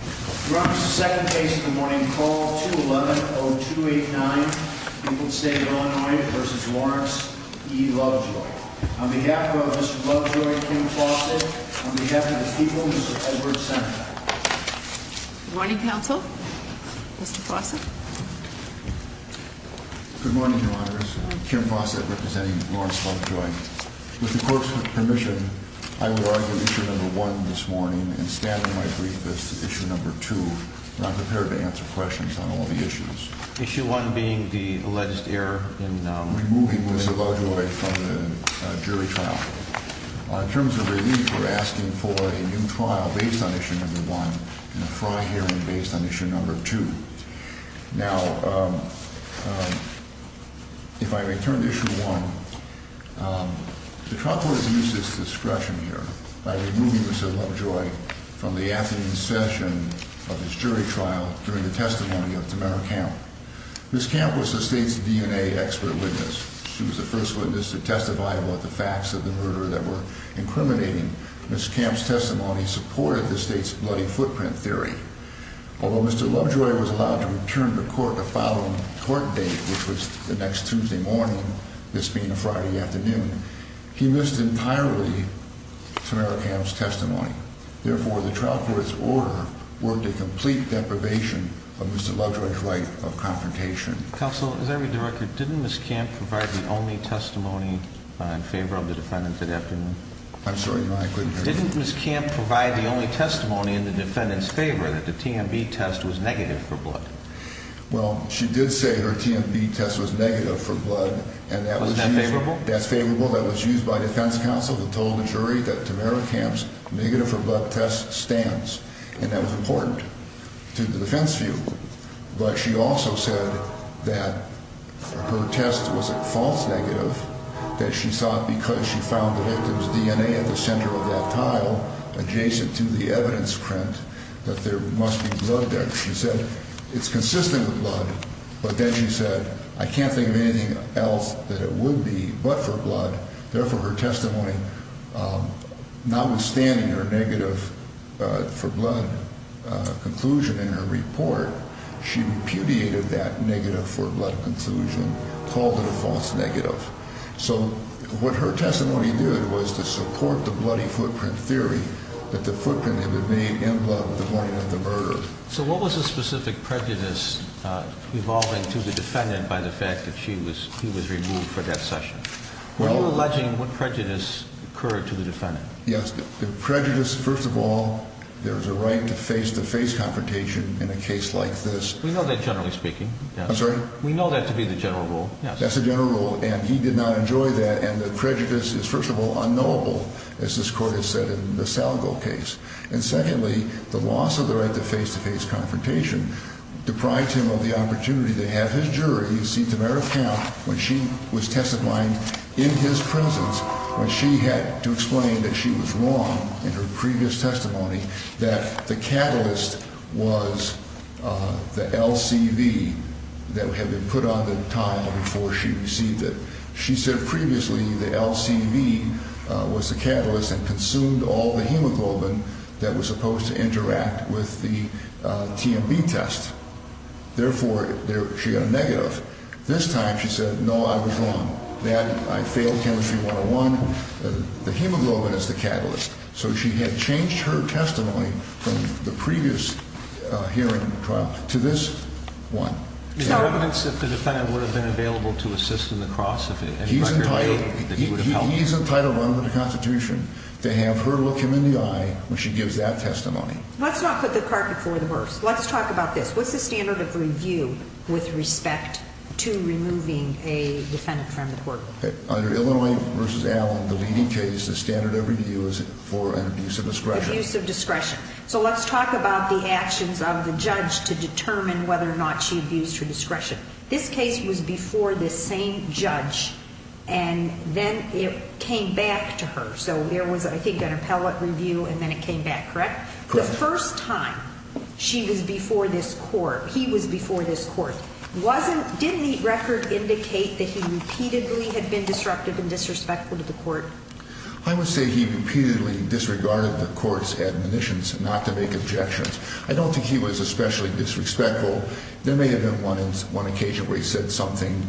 Your Honor, this is the second case of the morning. Call 211-0289, Eagle State, Illinois v. Lawrence v. Lovejoy. On behalf of Mr. Lovejoy, Kim Fawcett, on behalf of the people, Mr. Edwards, Senator. Good morning, counsel. Mr. Fawcett. Good morning, Your Honor. Kim Fawcett, representing Lawrence Lovejoy. With the court's permission, I would argue Issue No. 1 this morning and stand in my brief as to Issue No. 2. I'm not prepared to answer questions on all the issues. Issue 1 being the alleged error in removing Ms. Lovejoy from the jury trial. In terms of relief, we're asking for a new trial based on Issue No. 1 and a fraud hearing based on Issue No. 2. Now, if I may turn to Issue 1. The trial court has used this discretion here by removing Mr. Lovejoy from the afternoon session of his jury trial during the testimony of Tamara Camp. Ms. Camp was the state's DNA expert witness. She was the first witness to testify about the facts of the murder that were incriminating. Ms. Camp's testimony supported the state's bloody footprint theory. Although Mr. Lovejoy was allowed to return to court the following court date, which was the next Tuesday morning, this being a Friday afternoon, he missed entirely Tamara Camp's testimony. Therefore, the trial court's order worked a complete deprivation of Mr. Lovejoy's right of confrontation. Counsel, as I read the record, didn't Ms. Camp provide the only testimony in favor of the defendant that afternoon? I'm sorry, Your Honor, I couldn't hear you. Didn't Ms. Camp provide the only testimony in the defendant's favor that the TMB test was negative for blood? Well, she did say her TMB test was negative for blood. Wasn't that favorable? That's favorable. That was used by defense counsel that told the jury that Tamara Camp's negative for blood test stands, and that was important to the defense view. But she also said that her test was a false negative, that she thought because she found the victim's DNA at the center of that tile, adjacent to the evidence print, that there must be blood there. She said it's consistent with blood. But then she said, I can't think of anything else that it would be but for blood. Therefore, her testimony, notwithstanding her negative for blood conclusion in her report, she repudiated that negative for blood conclusion, called it a false negative. So what her testimony did was to support the bloody footprint theory that the footprint had been made in blood the morning of the murder. So what was the specific prejudice involving to the defendant by the fact that he was removed for that session? Were you alleging what prejudice occurred to the defendant? Yes. The prejudice, first of all, there's a right to face-to-face confrontation in a case like this. We know that generally speaking. I'm sorry? We know that to be the general rule. That's the general rule, and he did not enjoy that. And the prejudice is, first of all, unknowable, as this court has said in the Salgo case. And secondly, the loss of the right to face-to-face confrontation deprived him of the opportunity to have his jury, you see, Tamera Camp, when she was testifying in his presence, when she had to explain that she was wrong in her previous testimony, that the catalyst was the LCV that had been put on the tile before she received it. She said previously the LCV was the catalyst and consumed all the hemoglobin that was supposed to interact with the TMB test. Therefore, she got a negative. This time she said, no, I was wrong. I failed Chemistry 101. The hemoglobin is the catalyst. So she had changed her testimony from the previous hearing trial to this one. The argument is that the defendant would have been available to assist in the cross if it had not been made that he would have helped. He's entitled under the Constitution to have her look him in the eye when she gives that testimony. Let's not put the cart before the horse. Let's talk about this. What's the standard of review with respect to removing a defendant from the court? Under Illinois v. Allen, the leading case, the standard of review is for an abuse of discretion. Abuse of discretion. So let's talk about the actions of the judge to determine whether or not she abused her discretion. This case was before the same judge, and then it came back to her. So there was, I think, an appellate review, and then it came back, correct? Correct. The first time she was before this court, he was before this court, didn't the record indicate that he repeatedly had been disruptive and disrespectful to the court? I would say he repeatedly disregarded the court's admonitions not to make objections. I don't think he was especially disrespectful. There may have been one occasion where he said something,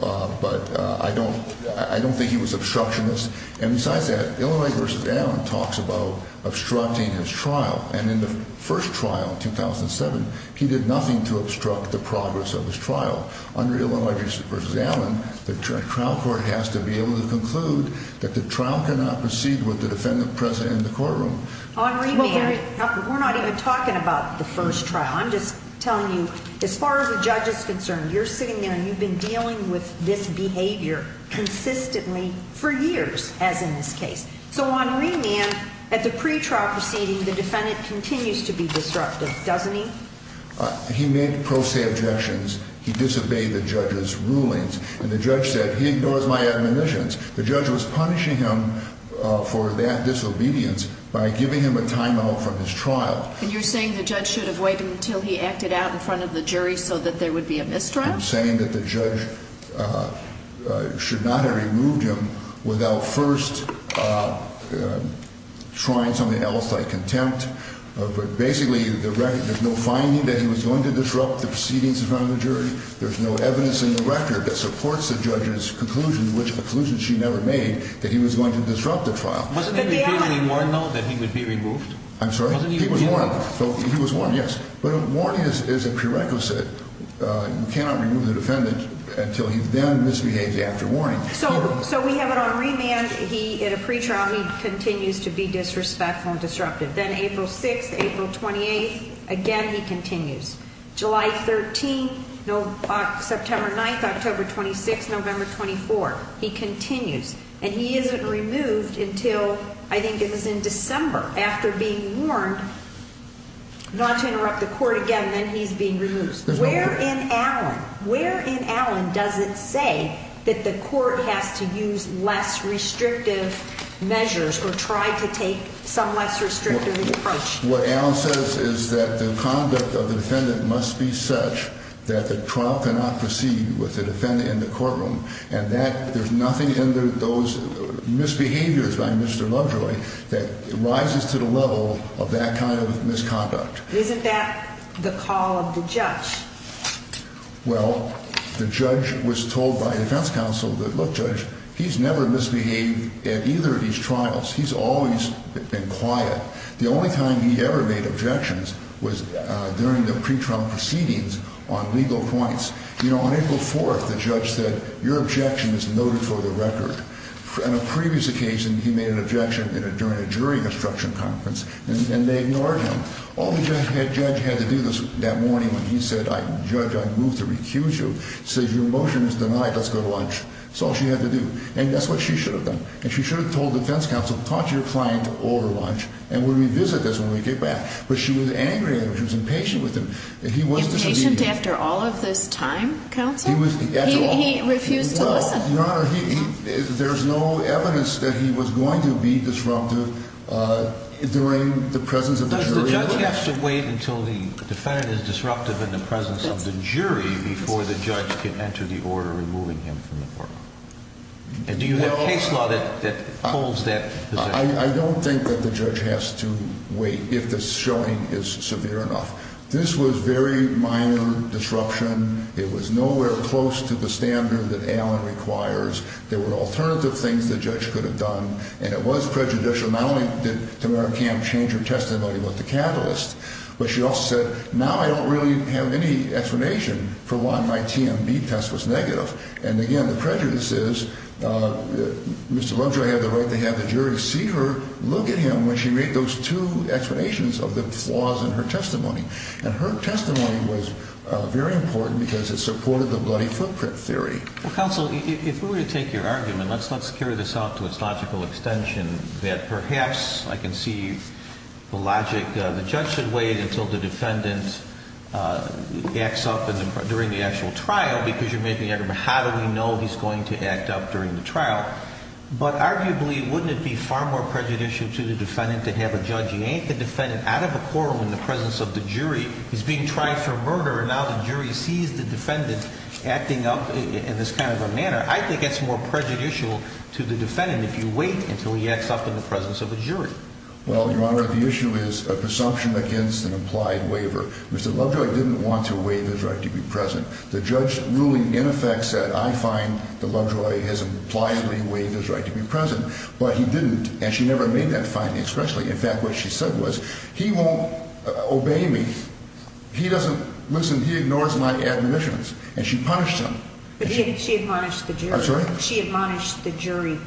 but I don't think he was obstructionist. And besides that, Illinois v. Allen talks about obstructing his trial. And in the first trial, 2007, he did nothing to obstruct the progress of his trial. Under Illinois v. Allen, the trial court has to be able to conclude that the trial cannot proceed with the defendant present in the courtroom. On remand, we're not even talking about the first trial. I'm just telling you, as far as the judge is concerned, you're sitting there and you've been dealing with this behavior consistently for years, as in this case. So on remand, at the pretrial proceeding, the defendant continues to be disruptive, doesn't he? He made pro se objections. He disobeyed the judge's rulings. And the judge said, he ignores my admonitions. The judge was punishing him for that disobedience by giving him a timeout from his trial. And you're saying the judge should have waited until he acted out in front of the jury so that there would be a mistrial? I'm saying that the judge should not have removed him without first trying something else like contempt. But basically, there's no finding that he was going to disrupt the proceedings in front of the jury. There's no evidence in the record that supports the judge's conclusion, which conclusion she never made, that he was going to disrupt the trial. Wasn't there a warning though that he would be removed? I'm sorry? He was warned. He was warned, yes. But a warning is a prerequisite. You cannot remove the defendant until he then misbehaves after warning. So we have it on remand. He, at a pretrial, he continues to be disrespectful and disruptive. Then April 6th, April 28th, again he continues. July 13th, September 9th, October 26th, November 24th, he continues. And he isn't removed until, I think it was in December, after being warned not to interrupt the court again, then he's being removed. Where in Allen, where in Allen does it say that the court has to use less restrictive measures or try to take some less restrictive approach? What Allen says is that the conduct of the defendant must be such that the trial cannot proceed with the defendant in the courtroom. And that there's nothing in those misbehaviors by Mr. Lovejoy that rises to the level of that kind of misconduct. Isn't that the call of the judge? Well, the judge was told by defense counsel that, look, judge, he's never misbehaved at either of these trials. He's always been quiet. The only time he ever made objections was during the pretrial proceedings on legal points. You know, on April 4th, the judge said, your objection is noted for the record. On a previous occasion, he made an objection during a jury construction conference, and they ignored him. All the judge had to do that morning when he said, judge, I move to recuse you, says, your motion is denied. Let's go to lunch. That's all she had to do. And that's what she should have done. And she should have told defense counsel, talk to your client over lunch, and we'll revisit this when we get back. But she was angry at him. She was impatient with him. Impatient after all of this time, counsel? He refused to listen. Your Honor, there's no evidence that he was going to be disruptive during the presence of the jury. But the judge has to wait until the defendant is disruptive in the presence of the jury before the judge can enter the order removing him from the court. And do you have case law that holds that position? I don't think that the judge has to wait if the showing is severe enough. This was very minor disruption. It was nowhere close to the standard that Allen requires. There were alternative things the judge could have done. And it was prejudicial. Not only did Tamara Camp change her testimony with the catalyst, but she also said, now I don't really have any explanation for why my TMB test was negative. And, again, the prejudice is Mr. Lovejoy had the right to have the jury see her look at him when she made those two explanations of the flaws in her testimony. And her testimony was very important because it supported the bloody footprint theory. Well, counsel, if we were to take your argument, let's carry this out to its logical extension, that perhaps I can see the logic. The judge should wait until the defendant acts up during the actual trial because you're making the argument, how do we know he's going to act up during the trial? But, arguably, wouldn't it be far more prejudicial to the defendant to have a judge yank the defendant out of a courtroom in the presence of the jury? He's being tried for murder, and now the jury sees the defendant acting up in this kind of a manner. I think it's more prejudicial to the defendant if you wait until he acts up in the presence of a jury. Well, Your Honor, the issue is an assumption against an implied waiver. Mr. Lovejoy didn't want to waive his right to be present. The judge's ruling, in effect, said, I find that Lovejoy has impliedly waived his right to be present, but he didn't, and she never made that finding, especially. In fact, what she said was, he won't obey me. He doesn't, listen, he ignores my admonitions, and she punished him. But she admonished the jury. I'm sorry? She admonished the jury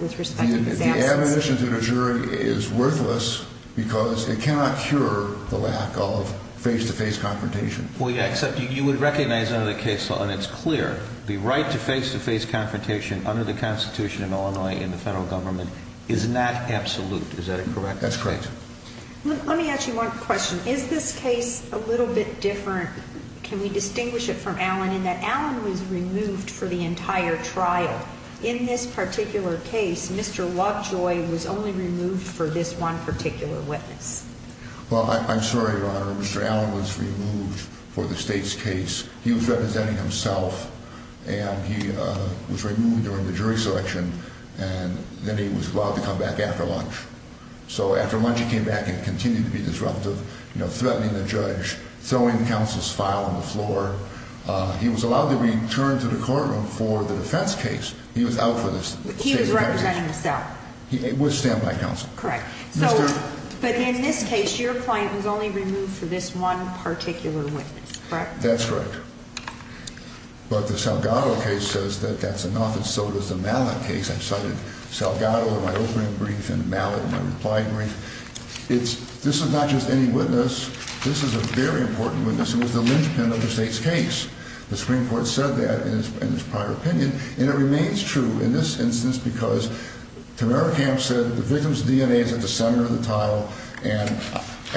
with respect to his absence. The admonition to the jury is worthless because it cannot cure the lack of face-to-face confrontation. Well, except you would recognize under the case law, and it's clear, the right to face-to-face confrontation under the Constitution in Illinois in the federal government is not absolute. Is that correct? That's correct. Let me ask you one question. Is this case a little bit different? Can we distinguish it from Allen in that Allen was removed for the entire trial? In this particular case, Mr. Lovejoy was only removed for this one particular witness. Well, I'm sorry, Your Honor. Mr. Allen was removed for the state's case. He was representing himself, and he was removed during the jury selection, and then he was allowed to come back after lunch. So after lunch, he came back and continued to be disruptive, threatening the judge, throwing counsel's file on the floor. He was allowed to return to the courtroom for the defense case. He was out for the state's defense case. He was representing himself. With standby counsel. Correct. But in this case, your client was only removed for this one particular witness, correct? That's correct. But the Salgado case says that that's enough, and so does the Mallett case. I've cited Salgado in my opening brief and Mallett in my reply brief. This is not just any witness. This is a very important witness. It was the linchpin of the state's case. The Supreme Court said that in its prior opinion, and it remains true in this instance because Tamera Camp said the victim's DNA is at the top. It's at the center of the tile,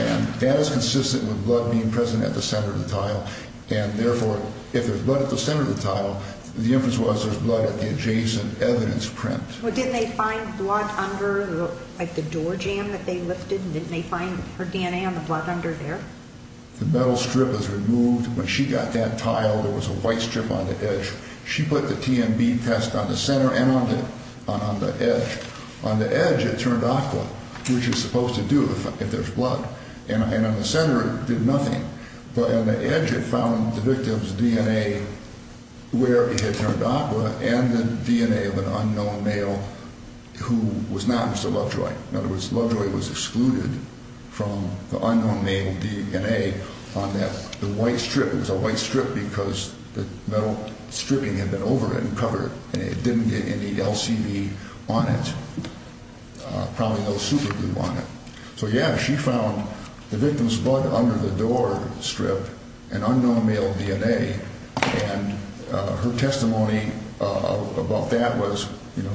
and that is consistent with blood being present at the center of the tile. And therefore, if there's blood at the center of the tile, the inference was there's blood at the adjacent evidence print. Well, didn't they find blood under, like, the door jamb that they lifted? And didn't they find her DNA on the blood under there? The metal strip was removed. When she got that tile, there was a white strip on the edge. She put the TMB test on the center and on the edge. On the edge, it turned aqua, which is supposed to do if there's blood. And on the center, it did nothing. But on the edge, it found the victim's DNA where it had turned aqua and the DNA of an unknown male who was not Mr. Lovejoy. In other words, Lovejoy was excluded from the unknown male DNA on that white strip. It was a white strip because the metal stripping had been over it and covered it, and it didn't get any LCD on it, probably no superglue on it. So, yeah, she found the victim's blood under the door strip and unknown male DNA. And her testimony about that was, you know,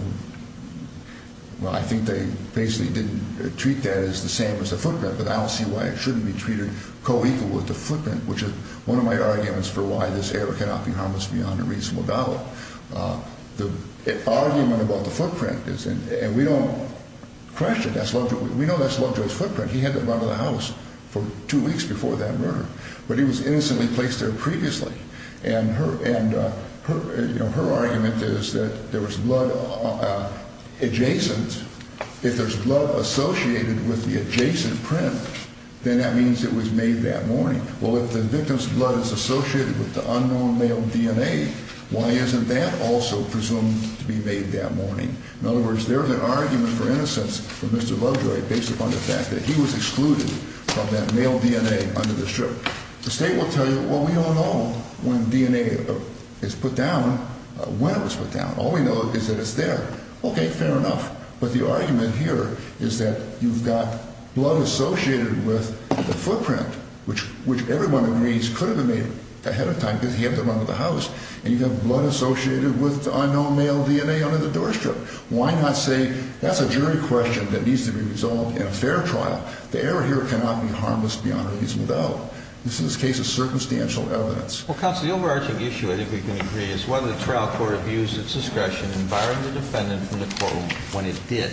well, I think they basically didn't treat that as the same as the footprint, but I don't see why it shouldn't be treated co-equal with the footprint, which is one of my arguments for why this error cannot be harmless beyond a reasonable doubt. The argument about the footprint is, and we don't question that's Lovejoy. We know that's Lovejoy's footprint. He had to run to the house for two weeks before that murder, but he was innocently placed there previously. And her argument is that there was blood adjacent. If there's blood associated with the adjacent print, then that means it was made that morning. Well, if the victim's blood is associated with the unknown male DNA, why isn't that also presumed to be made that morning? In other words, there's an argument for innocence for Mr. Lovejoy based upon the fact that he was excluded from that male DNA under the strip. The state will tell you, well, we don't know when DNA is put down, when it was put down. All we know is that it's there. Okay, fair enough. But the argument here is that you've got blood associated with the footprint, which everyone agrees could have been made ahead of time because he had to run to the house. And you have blood associated with unknown male DNA under the doorstrip. Why not say that's a jury question that needs to be resolved in a fair trial? The error here cannot be harmless beyond a reasonable doubt. This is a case of circumstantial evidence. Well, counsel, the overarching issue I think we can agree is whether the trial court abused its discretion in firing the defendant from the courtroom when it did.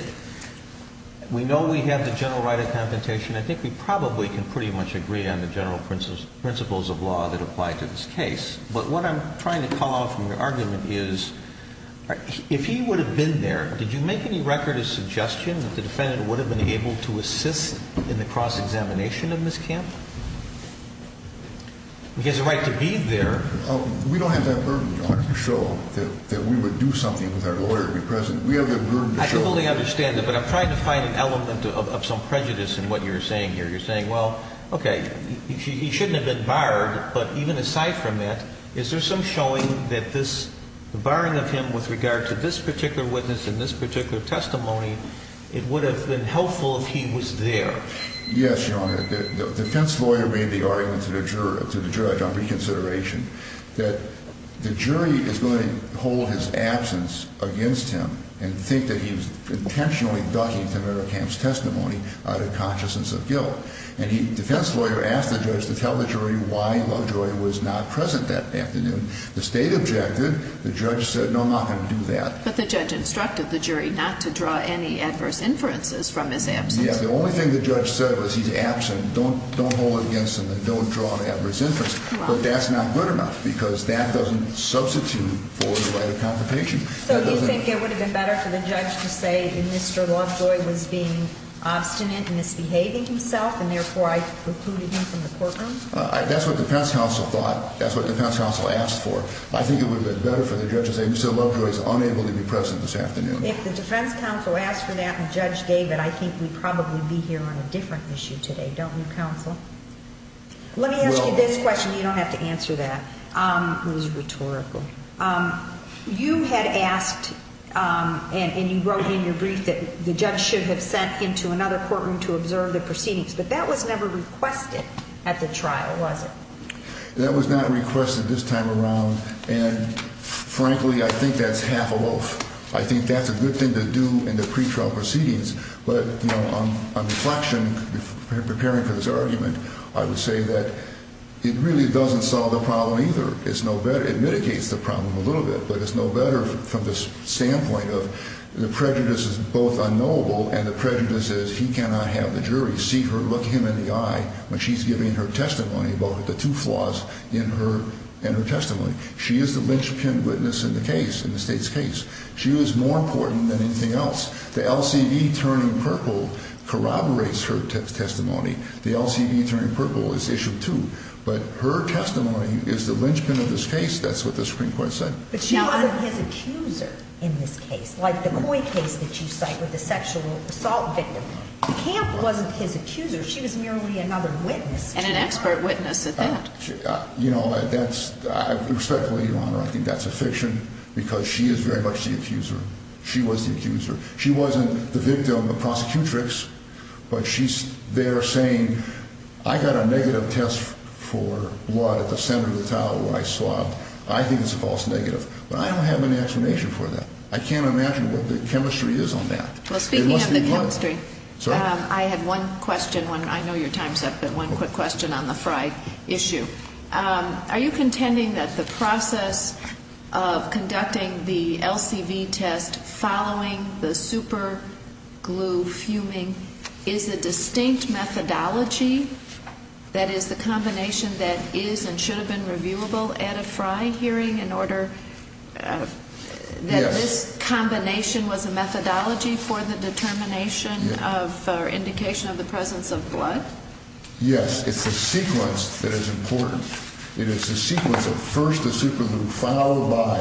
We know we have the general right of confrontation. I think we probably can pretty much agree on the general principles of law that apply to this case. But what I'm trying to call out from your argument is if he would have been there, did you make any record of suggestion that the defendant would have been able to assist in the cross-examination of Ms. Camp? He has a right to be there. We don't have that burden, Your Honor, to show that we would do something with our lawyer to be present. We have that burden to show. I fully understand that, but I'm trying to find an element of some prejudice in what you're saying here. You're saying, well, okay, he shouldn't have been barred, but even aside from that, is there some showing that this barring of him with regard to this particular witness and this particular testimony, it would have been helpful if he was there? Yes, Your Honor. The defense lawyer made the argument to the judge on reconsideration that the jury is going to hold his absence against him and think that he was intentionally ducking Tamara Camp's testimony out of consciousness of guilt. And the defense lawyer asked the judge to tell the jury why the lawyer was not present that afternoon. The state objected. The judge said, no, I'm not going to do that. But the judge instructed the jury not to draw any adverse inferences from his absence. Yes, the only thing the judge said was he's absent. Don't hold it against him and don't draw an adverse inference. But that's not good enough because that doesn't substitute for the right of confrontation. So do you think it would have been better for the judge to say that Mr. Lovejoy was being obstinate and misbehaving himself and therefore I excluded him from the courtroom? That's what the defense counsel thought. That's what the defense counsel asked for. I think it would have been better for the judge to say Mr. Lovejoy is unable to be present this afternoon. If the defense counsel asked for that and the judge gave it, I think we'd probably be here on a different issue today, don't we, counsel? Let me ask you this question. You don't have to answer that. It was rhetorical. You had asked and you wrote in your brief that the judge should have sent him to another courtroom to observe the proceedings. But that was never requested at the trial, was it? That was not requested this time around. And frankly, I think that's half a loaf. I think that's a good thing to do in the pretrial proceedings. But, you know, on reflection, preparing for this argument, I would say that it really doesn't solve the problem either. It's no better. It mitigates the problem a little bit, but it's no better from the standpoint of the prejudice is both unknowable and the prejudice is he cannot have the jury see her look him in the eye when she's giving her testimony about the two flaws in her testimony. She is the linchpin witness in the case, in the state's case. She was more important than anything else. The LCV turning purple corroborates her testimony. The LCV turning purple is issue two. But her testimony is the linchpin of this case. That's what the Supreme Court said. But she wasn't his accuser in this case, like the Coy case that you cite with the sexual assault victim. Camp wasn't his accuser. She was merely another witness. And an expert witness at that. Respectfully, Your Honor, I think that's a fiction because she is very much the accuser. She was the accuser. She wasn't the victim, the prosecutrix. But she's there saying, I got a negative test for blood at the center of the towel where I swabbed. I think it's a false negative. But I don't have an explanation for that. I can't imagine what the chemistry is on that. Well, speaking of the chemistry, I had one question. I know your time is up, but one quick question on the Frye issue. Are you contending that the process of conducting the LCV test following the superglue fuming is a distinct methodology? That is, the combination that is and should have been reviewable at a Frye hearing in order that this combination was a methodology for the determination of or indication of the presence of blood? Yes. It's the sequence that is important. It is the sequence of first the superglue followed by,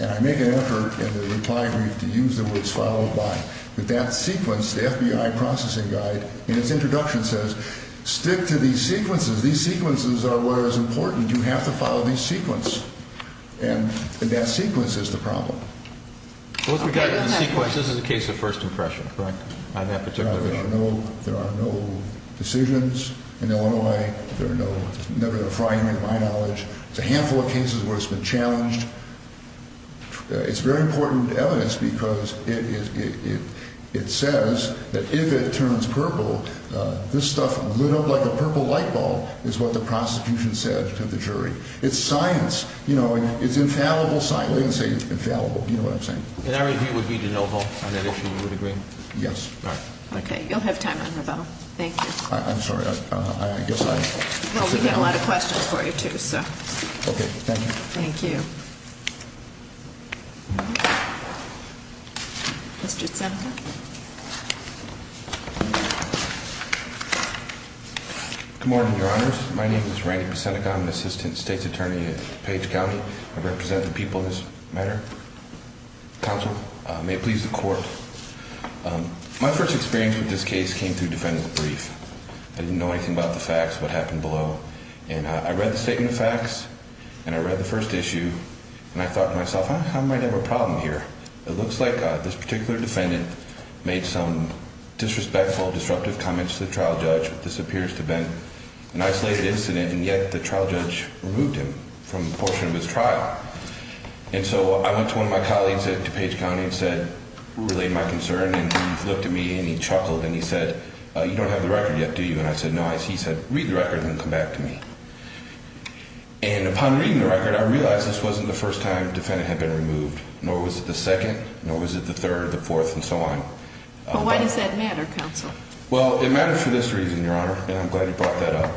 and I make an effort in the reply brief to use the words followed by, but that sequence, the FBI processing guide in its introduction says stick to these sequences. These sequences are what is important. You have to follow these sequence. And that sequence is the problem. This is a case of first impression, correct, on that particular issue? There are no decisions in Illinois. There are no, never at a Frye hearing to my knowledge. It's a handful of cases where it's been challenged. It's very important evidence because it says that if it turns purple, this stuff lit up like a purple light bulb, is what the prosecution said to the jury. It's science. You know, it's infallible science. I'm not going to say it's infallible. You know what I'm saying. And our review would be de novo on that issue. You would agree? Yes. All right. Okay. You'll have time on rebuttal. Thank you. I'm sorry. I guess I'll sit down. Well, we have a lot of questions for you too, so. Okay. Thank you. Thank you. Mr. Seneca. Good morning, Your Honors. My name is Randy Seneca. I'm an assistant state's attorney at Page County. I represent the people in this matter. Counsel, may it please the court. My first experience with this case came through defendant's brief. I didn't know anything about the facts, what happened below. And I read the statement of facts, and I read the first issue, and I thought to myself, I might have a problem here. It looks like this particular defendant made some disrespectful, disruptive comments to the trial judge. This appears to have been an isolated incident, and yet the trial judge removed him from a portion of his trial. And so I went to one of my colleagues at Page County and said, relate my concern. And he looked at me, and he chuckled, and he said, you don't have the record yet, do you? And I said, no. He said, read the record and then come back to me. And upon reading the record, I realized this wasn't the first time the defendant had been removed, nor was it the second, nor was it the third, the fourth, and so on. But why does that matter, counsel? Well, it matters for this reason, Your Honor, and I'm glad you brought that up.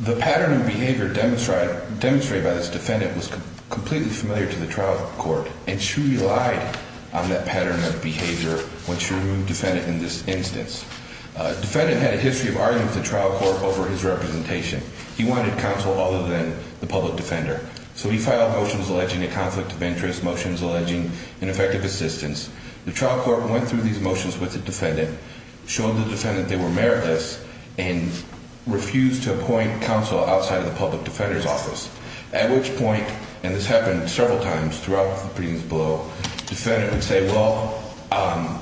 The pattern of behavior demonstrated by this defendant was completely familiar to the trial court, and she relied on that pattern of behavior when she removed the defendant in this instance. The defendant had a history of argument with the trial court over his representation. He wanted counsel other than the public defender. So he filed motions alleging a conflict of interest, motions alleging ineffective assistance. The trial court went through these motions with the defendant, showed the defendant they were meritless, and refused to appoint counsel outside of the public defender's office, at which point, and this happened several times throughout the proceedings below, the defendant would say, well, I'm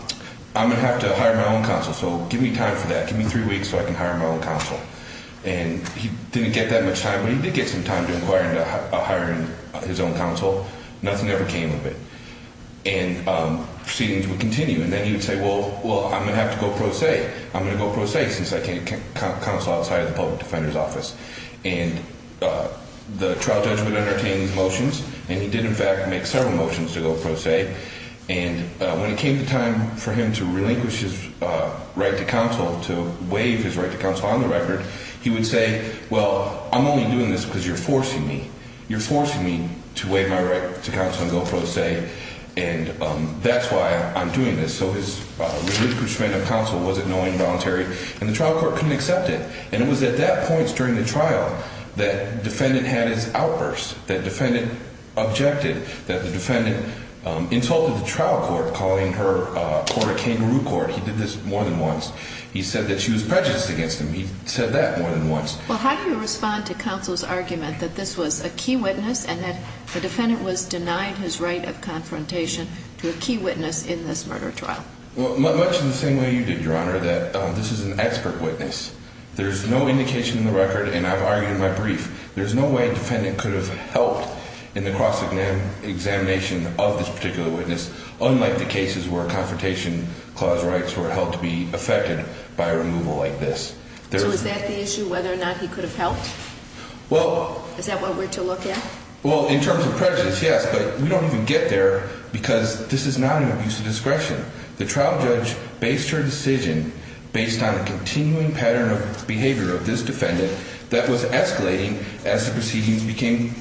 going to have to hire my own counsel, so give me time for that, give me three weeks so I can hire my own counsel. And he didn't get that much time, but he did get some time to inquire into hiring his own counsel. Nothing ever came of it. And proceedings would continue, and then he would say, well, I'm going to have to go pro se. I'm going to go pro se since I can't counsel outside of the public defender's office. And the trial judge would entertain these motions, and he did, in fact, make several motions to go pro se. And when it came to time for him to relinquish his right to counsel, to waive his right to counsel on the record, he would say, well, I'm only doing this because you're forcing me. You're forcing me to waive my right to counsel and go pro se, and that's why I'm doing this. So his relinquishment of counsel wasn't knowingly involuntary, and the trial court couldn't accept it. And it was at that point during the trial that defendant had his outburst, that defendant objected, that the defendant insulted the trial court, calling her court a kangaroo court. He did this more than once. He said that she was prejudiced against him. He said that more than once. Well, how do you respond to counsel's argument that this was a key witness and that the defendant was denied his right of confrontation to a key witness in this murder trial? Well, much in the same way you did, Your Honor, that this is an expert witness. There's no indication in the record, and I've argued in my brief, there's no way defendant could have helped in the cross-examination of this particular witness, unlike the cases where confrontation clause rights were held to be affected by a removal like this. So is that the issue, whether or not he could have helped? Is that what we're to look at? Well, in terms of prejudice, yes, but we don't even get there because this is not an abuse of discretion. The trial judge based her decision based on a continuing pattern of behavior of this defendant that was escalating as the proceedings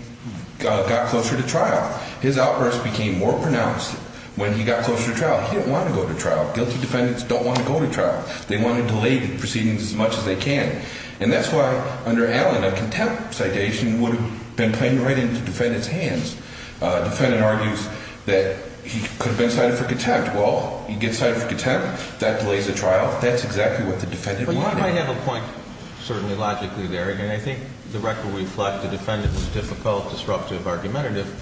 got closer to trial. His outburst became more pronounced when he got closer to trial. He didn't want to go to trial. Guilty defendants don't want to go to trial. They want to delay the proceedings as much as they can, and that's why under Allen a contempt citation would have been planted right into the defendant's hands. Defendant argues that he could have been cited for contempt. Well, he gets cited for contempt. That delays the trial. That's exactly what the defendant wanted. Well, you might have a point, certainly, logically there, and I think the record reflects the defendant was difficult, disruptive, argumentative.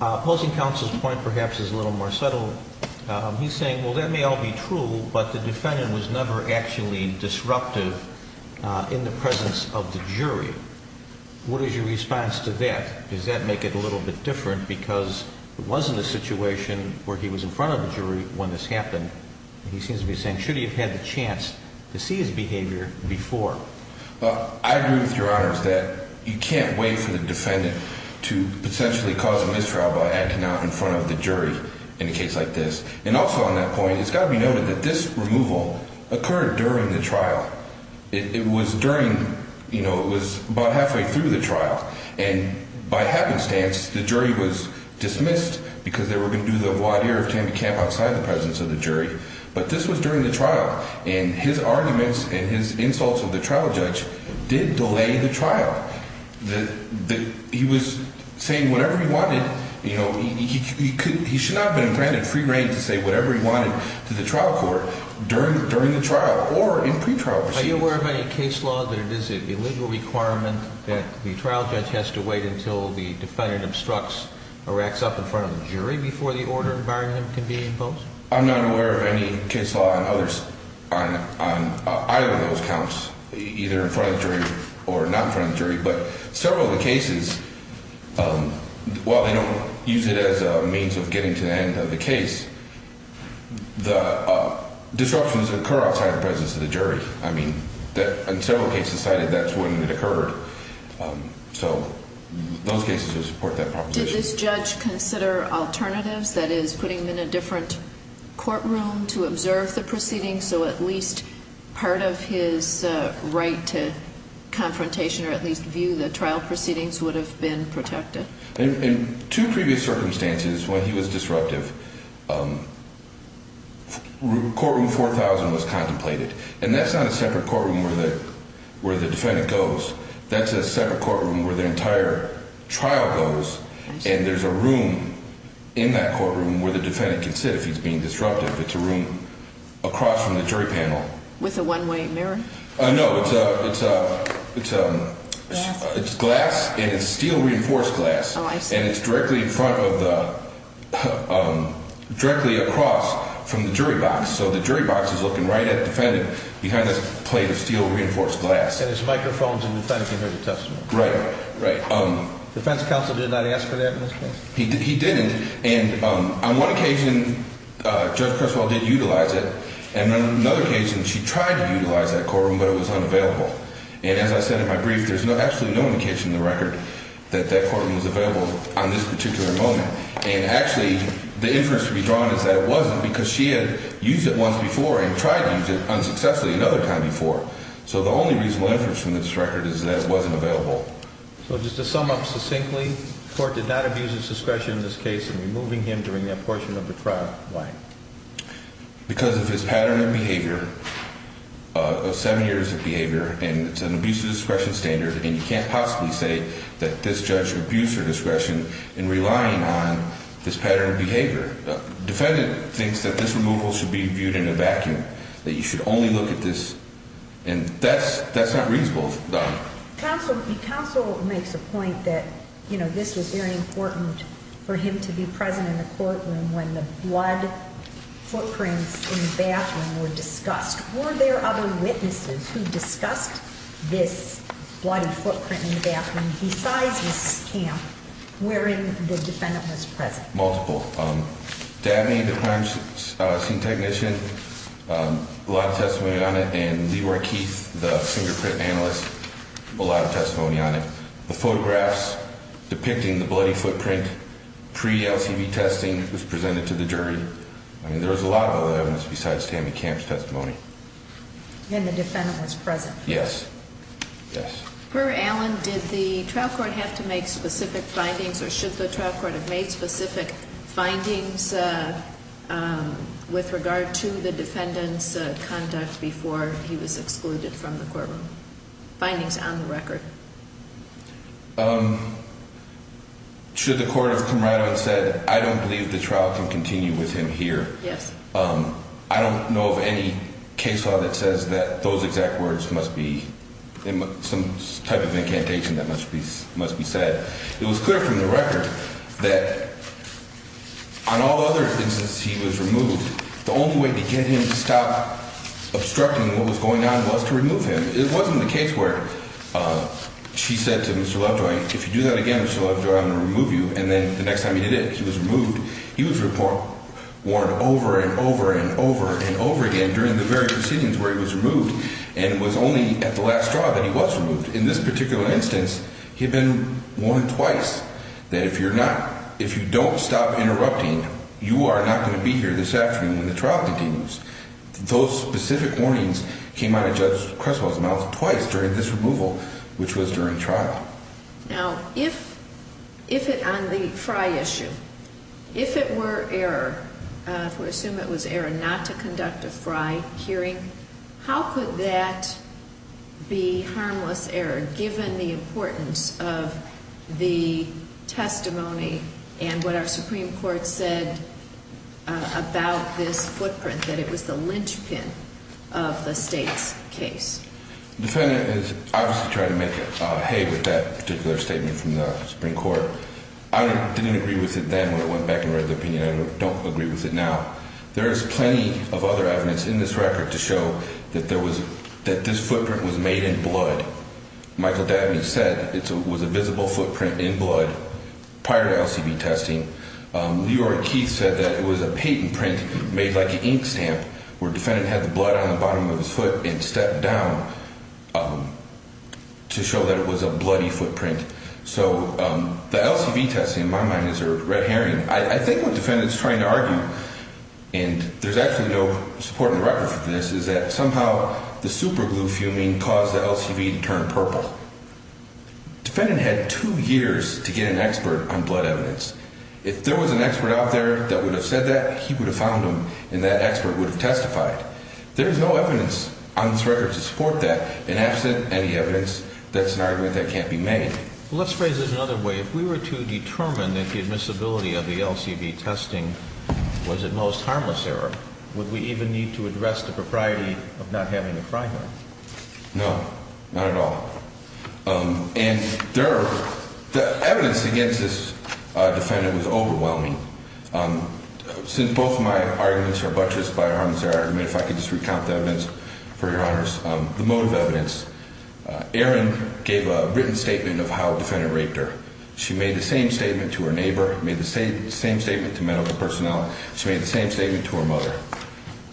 Opposing counsel's point perhaps is a little more subtle. He's saying, well, that may all be true, but the defendant was never actually disruptive in the presence of the jury. What is your response to that? Does that make it a little bit different because it wasn't a situation where he was in front of the jury when this happened. He seems to be saying, should he have had the chance to see his behavior before? Well, I agree with Your Honors that you can't wait for the defendant to potentially cause a mistrial by acting out in front of the jury in a case like this. And also on that point, it's got to be noted that this removal occurred during the trial. It was during, you know, it was about halfway through the trial, and by happenstance the jury was dismissed because they were going to do the voir dire of Tambi Camp outside the presence of the jury. But this was during the trial, and his arguments and his insults of the trial judge did delay the trial. He was saying whatever he wanted. You know, he should not have been granted free reign to say whatever he wanted to the trial court during the trial or in pretrial proceedings. Are you aware of any case law that it is an illegal requirement that the trial judge has to wait until the defendant obstructs or acts up in front of the jury before the order can be imposed? I'm not aware of any case law on either of those counts, either in front of the jury or not in front of the jury. But several of the cases, while they don't use it as a means of getting to the end of the case, the disruptions occur outside the presence of the jury. I mean, in several cases cited, that's when it occurred. So those cases would support that proposition. Did this judge consider alternatives, that is, putting him in a different courtroom to observe the proceedings, so at least part of his right to confrontation or at least view the trial proceedings would have been protected? In two previous circumstances, when he was disruptive, courtroom 4000 was contemplated. And that's not a separate courtroom where the defendant goes. That's a separate courtroom where the entire trial goes. And there's a room in that courtroom where the defendant can sit if he's being disruptive. It's a room across from the jury panel. With a one-way mirror? No, it's glass. And it's steel-reinforced glass. Oh, I see. And it's directly across from the jury box. So the jury box is looking right at the defendant behind this plate of steel-reinforced glass. And it's microphones and the defendant can hear the testimony. Right, right. Defense counsel did not ask for that in this case? He didn't. And on one occasion, Judge Cresswell did utilize it. And on another occasion, she tried to utilize that courtroom, but it was unavailable. And as I said in my brief, there's absolutely no indication in the record that that courtroom was available on this particular moment. And actually, the inference to be drawn is that it wasn't because she had used it once before and tried to use it unsuccessfully another time before. So the only reasonable inference from this record is that it wasn't available. So just to sum up succinctly, the court did not abuse his discretion in this case in removing him during that portion of the trial. Why? Because of his pattern of behavior, of seven years of behavior, and it's an abuse of discretion standard. And you can't possibly say that this judge abused her discretion in relying on this pattern of behavior. Defendant thinks that this removal should be viewed in a vacuum, that you should only look at this. And that's not reasonable, Donna. Counsel makes a point that, you know, this was very important for him to be present in the courtroom when the blood footprints in the bathroom were discussed. Were there other witnesses who discussed this bloody footprint in the bathroom besides this camp wherein the defendant was present? Multiple. Dabney, the crime scene technician, a lot of testimony on it. And Leroy Keith, the fingerprint analyst, a lot of testimony on it. The photographs depicting the bloody footprint pre-LCV testing was presented to the jury. I mean, there was a lot of other evidence besides Tammy Camp's testimony. And the defendant was present. Yes. Yes. Per Allen, did the trial court have to make specific findings, or should the trial court have made specific findings with regard to the defendant's conduct before he was excluded from the courtroom? Findings on the record. Should the court have come right out and said, I don't believe the trial can continue with him here? Yes. I don't know of any case law that says that those exact words must be some type of incantation that must be said. It was clear from the record that on all other instances he was removed, the only way to get him to stop obstructing what was going on was to remove him. It wasn't the case where she said to Mr. Lovejoy, if you do that again, Mr. Lovejoy, I'm going to remove you. And then the next time he did it, he was removed. He was warned over and over and over and over again during the very proceedings where he was removed. And it was only at the last trial that he was removed. In this particular instance, he had been warned twice that if you don't stop interrupting, you are not going to be here this afternoon when the trial continues. Those specific warnings came out of Judge Creswell's mouth twice during this removal, which was during trial. Now, if on the Frye issue, if it were error, if we assume it was error not to conduct a Frye hearing, how could that be harmless error, given the importance of the testimony and what our Supreme Court said about this footprint, that it was the linchpin of the State's case? The defendant is obviously trying to make hay with that particular statement from the Supreme Court. I didn't agree with it then when I went back and read the opinion. I don't agree with it now. There is plenty of other evidence in this record to show that this footprint was made in blood. Michael Dabney said it was a visible footprint in blood prior to LCB testing. Leroy Keith said that it was a patent print made like an ink stamp where the defendant had the blood on the bottom of his foot and stepped down to show that it was a bloody footprint. So the LCB testing, in my mind, is a red herring. I think what the defendant is trying to argue, and there's actually no support in the record for this, is that somehow the superglue fuming caused the LCB to turn purple. The defendant had two years to get an expert on blood evidence. If there was an expert out there that would have said that, he would have found him, and that expert would have testified. There is no evidence on this record to support that. And absent any evidence, that's an argument that can't be made. Let's phrase it another way. If we were to determine that the admissibility of the LCB testing was, at most, harmless error, would we even need to address the propriety of not having a crime record? No, not at all. And the evidence against this defendant was overwhelming. Since both of my arguments are buttressed by a harmless error argument, if I could just recount the evidence, for your honors, the motive evidence. Erin gave a written statement of how the defendant raped her. She made the same statement to her neighbor, made the same statement to medical personnel. She made the same statement to her mother.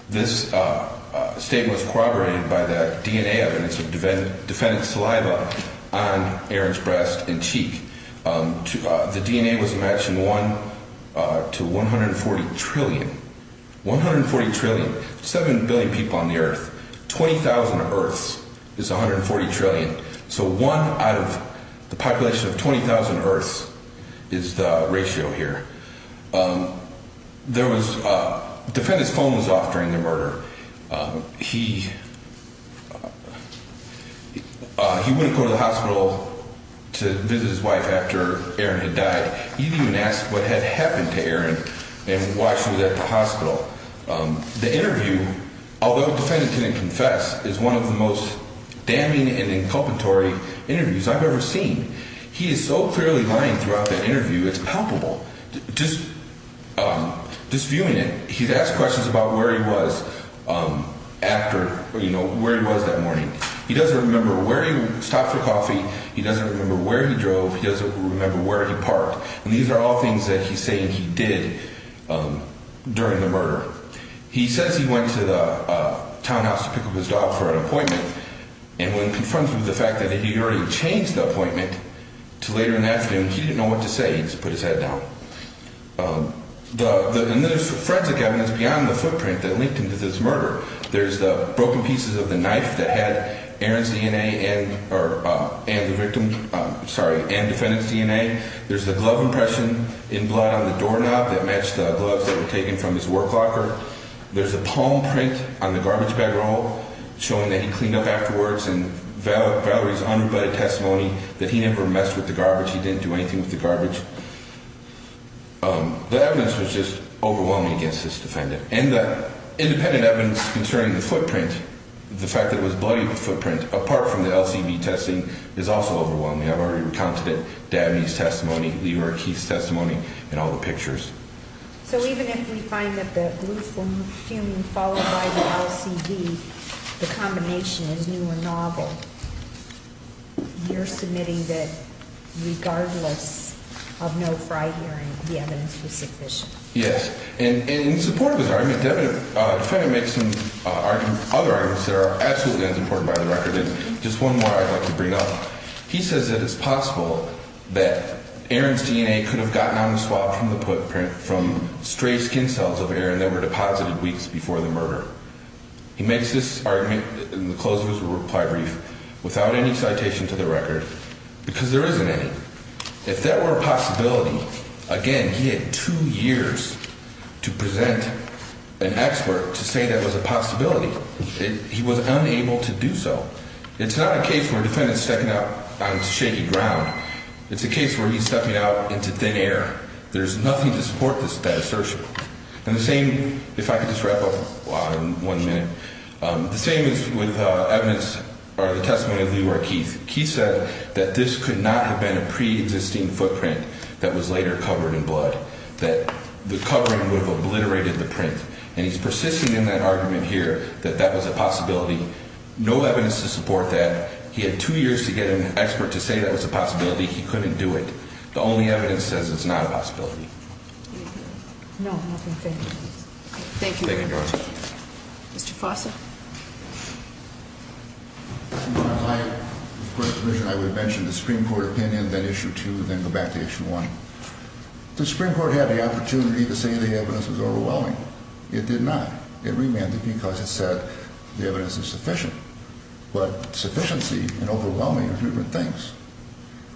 This statement was corroborated by the DNA evidence of defendant's saliva on Erin's breast and cheek. The DNA was matched in one to 140 trillion. 140 trillion. Seven billion people on the earth. 20,000 earths is 140 trillion. So one out of the population of 20,000 earths is the ratio here. The defendant's phone was off during the murder. He wouldn't go to the hospital to visit his wife after Erin had died. He didn't even ask what had happened to Erin and why she was at the hospital. The interview, although the defendant didn't confess, is one of the most damning and inculpatory interviews I've ever seen. He is so clearly lying throughout the interview, it's palpable. Just viewing it, he's asked questions about where he was after, you know, where he was that morning. He doesn't remember where he stopped for coffee. He doesn't remember where he drove. He doesn't remember where he parked. And these are all things that he's saying he did during the murder. He says he went to the townhouse to pick up his dog for an appointment. And when confronted with the fact that he had already changed the appointment to later in the afternoon, he didn't know what to say. He just put his head down. And there's forensic evidence beyond the footprint that linked him to this murder. There's the broken pieces of the knife that had Erin's DNA and the victim's, sorry, and defendant's DNA. There's the glove impression in blood on the doorknob that matched the gloves that were taken from his work locker. There's a palm print on the garbage bag roll showing that he cleaned up afterwards. And Valerie's unrebutted testimony that he never messed with the garbage, he didn't do anything with the garbage. The evidence was just overwhelming against this defendant. And the independent evidence concerning the footprint, the fact that it was bloody footprint, apart from the LCV testing, is also overwhelming. I've already recounted it. Dabney's testimony, Leroy Keith's testimony, and all the pictures. So even if we find that the glue fume followed by the LCV, the combination is new or novel, you're submitting that regardless of no prior hearing, the evidence was sufficient? Yes. And in support of his argument, the defendant makes some other arguments that are absolutely unsupported by the record. And just one more I'd like to bring up. He says that it's possible that Aaron's DNA could have gotten on the swab from the footprint from stray skin cells of Aaron that were deposited weeks before the murder. He makes this argument in the close of his reply brief without any citation to the record because there isn't any. If that were a possibility, again, he had two years to present an expert to say that was a possibility. He was unable to do so. It's not a case where a defendant is stepping out on shaky ground. It's a case where he's stepping out into thin air. There's nothing to support that assertion. And the same, if I could just wrap up in one minute, the same is with evidence or the testimony of Leroy Keith. Keith said that this could not have been a preexisting footprint that was later covered in blood, that the covering would have obliterated the print. And he's persisting in that argument here that that was a possibility. No evidence to support that. He had two years to get an expert to say that was a possibility. He couldn't do it. The only evidence says it's not a possibility. No, nothing. Thank you. Thank you very much. Mr. Fossett. I would mention the Supreme Court opinion, then Issue 2, then go back to Issue 1. The Supreme Court had the opportunity to say the evidence was overwhelming. It did not. It remanded because it said the evidence is sufficient. But sufficiency and overwhelming are different things.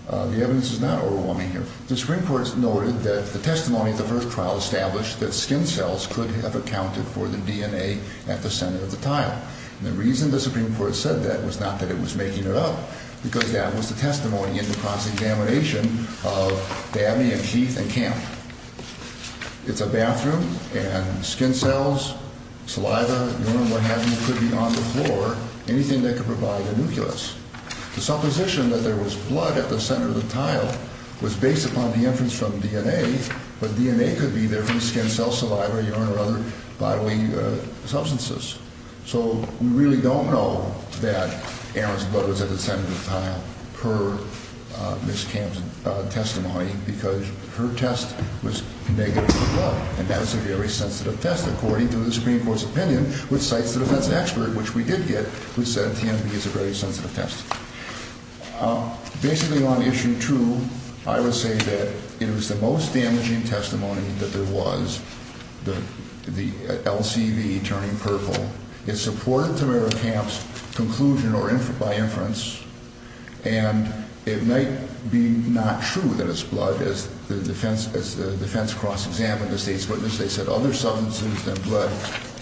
The evidence is not overwhelming here. The Supreme Court noted that the testimony at the first trial established that skin cells could have accounted for the DNA at the center of the tile. And the reason the Supreme Court said that was not that it was making it up, because that was the testimony in the cross-examination of Dabney and Keith and Camp. It's a bathroom and skin cells, saliva, urine, what have you, could be on the floor, anything that could provide a nucleus. The supposition that there was blood at the center of the tile was based upon the inference from DNA, but DNA could be there from skin cell, saliva, urine, or other bodily substances. So we really don't know that Aaron's blood was at the center of the tile per Ms. Camp's testimony because her test was negative for blood. And that is a very sensitive test, according to the Supreme Court's opinion, which cites the defense expert, which we did get, who said TNP is a very sensitive test. Basically on Issue 2, I would say that it was the most damaging testimony that there was, the LCV turning purple. It supported Tamara Camp's conclusion by inference. And it might be not true that it's blood. As the defense cross-examined the state's witness, they said other substances than blood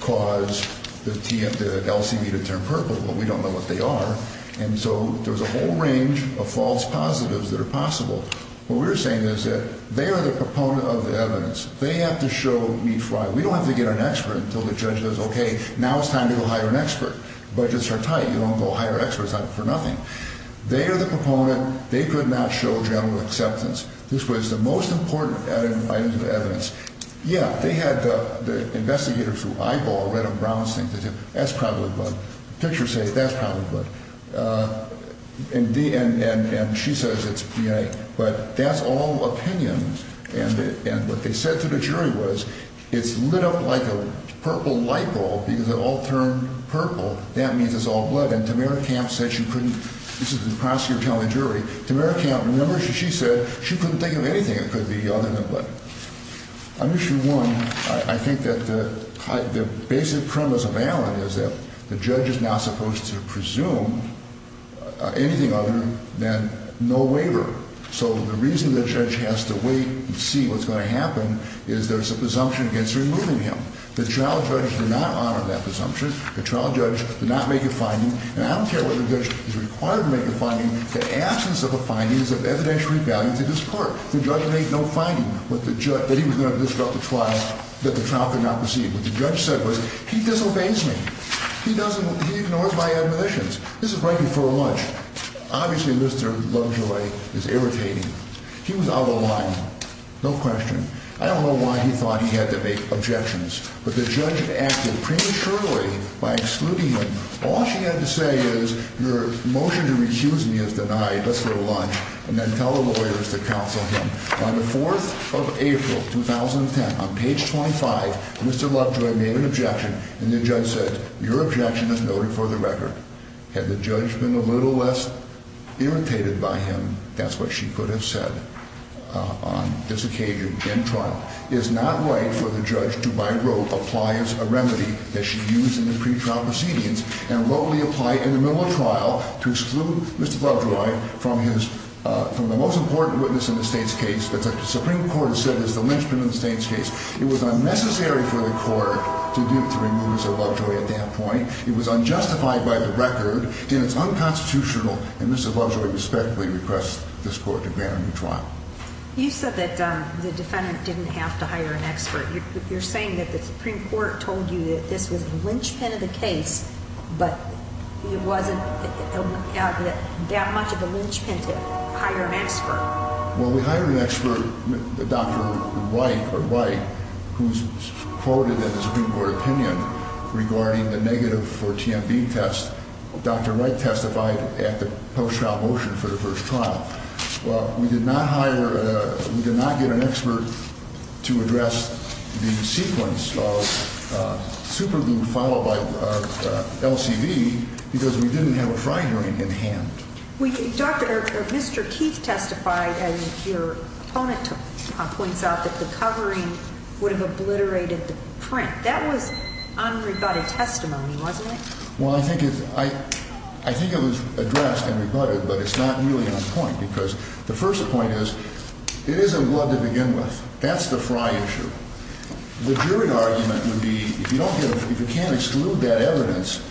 caused the LCV to turn purple. Well, we don't know what they are. And so there was a whole range of false positives that are possible. What we're saying is that they are the proponent of the evidence. They have to show meat fry. We don't have to get an expert until the judge says, okay, now it's time to go hire an expert. Budgets are tight. You don't go hire experts for nothing. They are the proponent. They could not show general acceptance. This was the most important item of evidence. Yeah, they had the investigators who eyeballed Red and Brown's thing. They said, that's probably blood. Pictures say that's probably blood. And she says it's DNA. But that's all opinions. And what they said to the jury was, it's lit up like a purple light bulb because it all turned purple. That means it's all blood. And Tamara Camp said she couldn't. This is the prosecutor telling the jury. Tamara Camp, remember, she said she couldn't think of anything that could be other than blood. On issue one, I think that the basic premise of Allen is that the judge is not supposed to presume anything other than no waiver. So the reason the judge has to wait and see what's going to happen is there's a presumption against removing him. The trial judge did not honor that presumption. The trial judge did not make a finding. And I don't care whether the judge is required to make a finding. The absence of a finding is of evidential value to this court. The judge made no finding that he was going to disrupt the trial, that the trial could not proceed. What the judge said was, he disobeys me. He ignores my admonitions. This is right before lunch. Obviously, Mr. Lovejoy is irritating. He was out of line. No question. I don't know why he thought he had to make objections. But the judge acted prematurely by excluding him. All she had to say is, your motion to recuse me is denied. Let's go to lunch. And then tell the lawyers to counsel him. On the 4th of April, 2010, on page 25, Mr. Lovejoy made an objection. And the judge said, your objection is noted for the record. Had the judge been a little less irritated by him, that's what she could have said on this occasion in trial. It is not right for the judge to, by rote, apply as a remedy that she used in the pretrial proceedings and locally apply in the middle of trial to exclude Mr. Lovejoy from the most important witness in the state's case. That's what the Supreme Court has said is the lynchpin in the state's case. It was unnecessary for the court to remove Mr. Lovejoy at that point. It was unjustified by the record. And it's unconstitutional. And Mr. Lovejoy respectfully requests this court to grant a new trial. You said that the defendant didn't have to hire an expert. You're saying that the Supreme Court told you that this was a lynchpin of the case, but it wasn't that much of a lynchpin to hire an expert. Well, we hired an expert, Dr. White, who's quoted in the Supreme Court opinion regarding the negative for TMB test. Dr. White testified at the post-trial motion for the first trial. Well, we did not hire – we did not get an expert to address the sequence of superglue followed by LCV because we didn't have a fry hearing in hand. Dr. – or Mr. Keith testified, as your opponent points out, that the covering would have obliterated the print. That was unrebutted testimony, wasn't it? Well, I think it's – I think it was addressed and rebutted, but it's not really on point because the first point is it isn't blood to begin with. That's the fry issue. The jury argument would be if you don't get – if you can't exclude that evidence,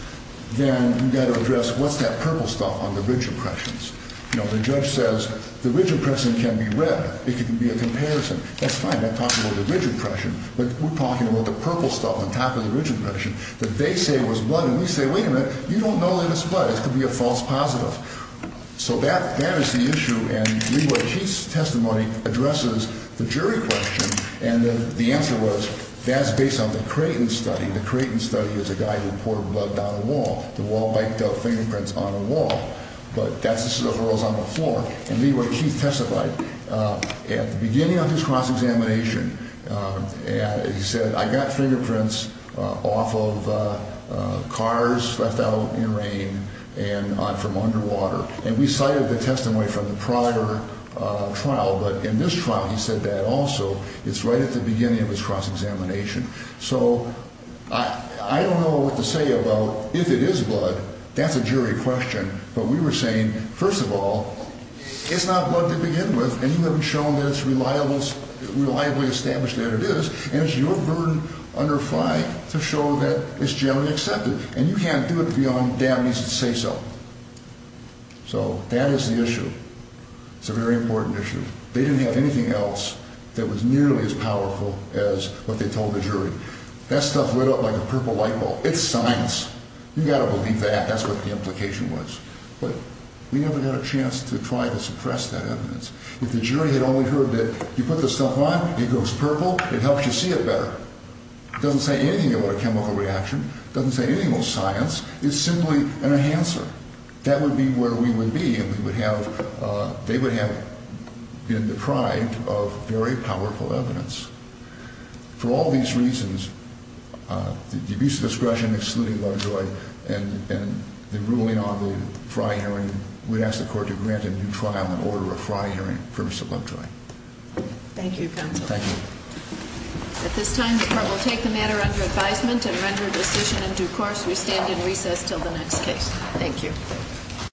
then you've got to address what's that purple stuff on the ridge impressions. You know, the judge says the ridge impression can be read. It can be a comparison. That's fine. I'm talking about the ridge impression. But we're talking about the purple stuff on top of the ridge impression that they say was blood, and we say, wait a minute, you don't know that it's blood. It could be a false positive. So that is the issue, and Leroy Keith's testimony addresses the jury question, and the answer was that's based on the Creighton study. The Creighton study is a guy who poured blood down a wall. The wall bite fingerprints on a wall. But that's – this is a horizontal floor. At the beginning of his cross-examination, he said, I got fingerprints off of cars left out in rain and from underwater. And we cited the testimony from the prior trial, but in this trial he said that also. It's right at the beginning of his cross-examination. So I don't know what to say about if it is blood. That's a jury question. But we were saying, first of all, it's not blood to begin with, and you haven't shown that it's reliably established that it is. And it's your burden under five to show that it's generally accepted. And you can't do it beyond damn easy to say so. So that is the issue. It's a very important issue. They didn't have anything else that was nearly as powerful as what they told the jury. That stuff lit up like a purple light bulb. It's science. You've got to believe that. That's what the implication was. But we never got a chance to try to suppress that evidence. If the jury had only heard that you put the stuff on, it goes purple, it helps you see it better. It doesn't say anything about a chemical reaction. It doesn't say anything about science. It's simply an enhancer. That would be where we would be, and they would have been deprived of very powerful evidence. For all these reasons, the abuse of discretion, excluding Lovejoy, and the ruling on the Frey hearing, we'd ask the court to grant a new trial in order of Frey hearing for Mr. Lovejoy. Thank you, counsel. Thank you. At this time, the court will take the matter under advisement and render a decision in due course. We stand in recess until the next case. Thank you.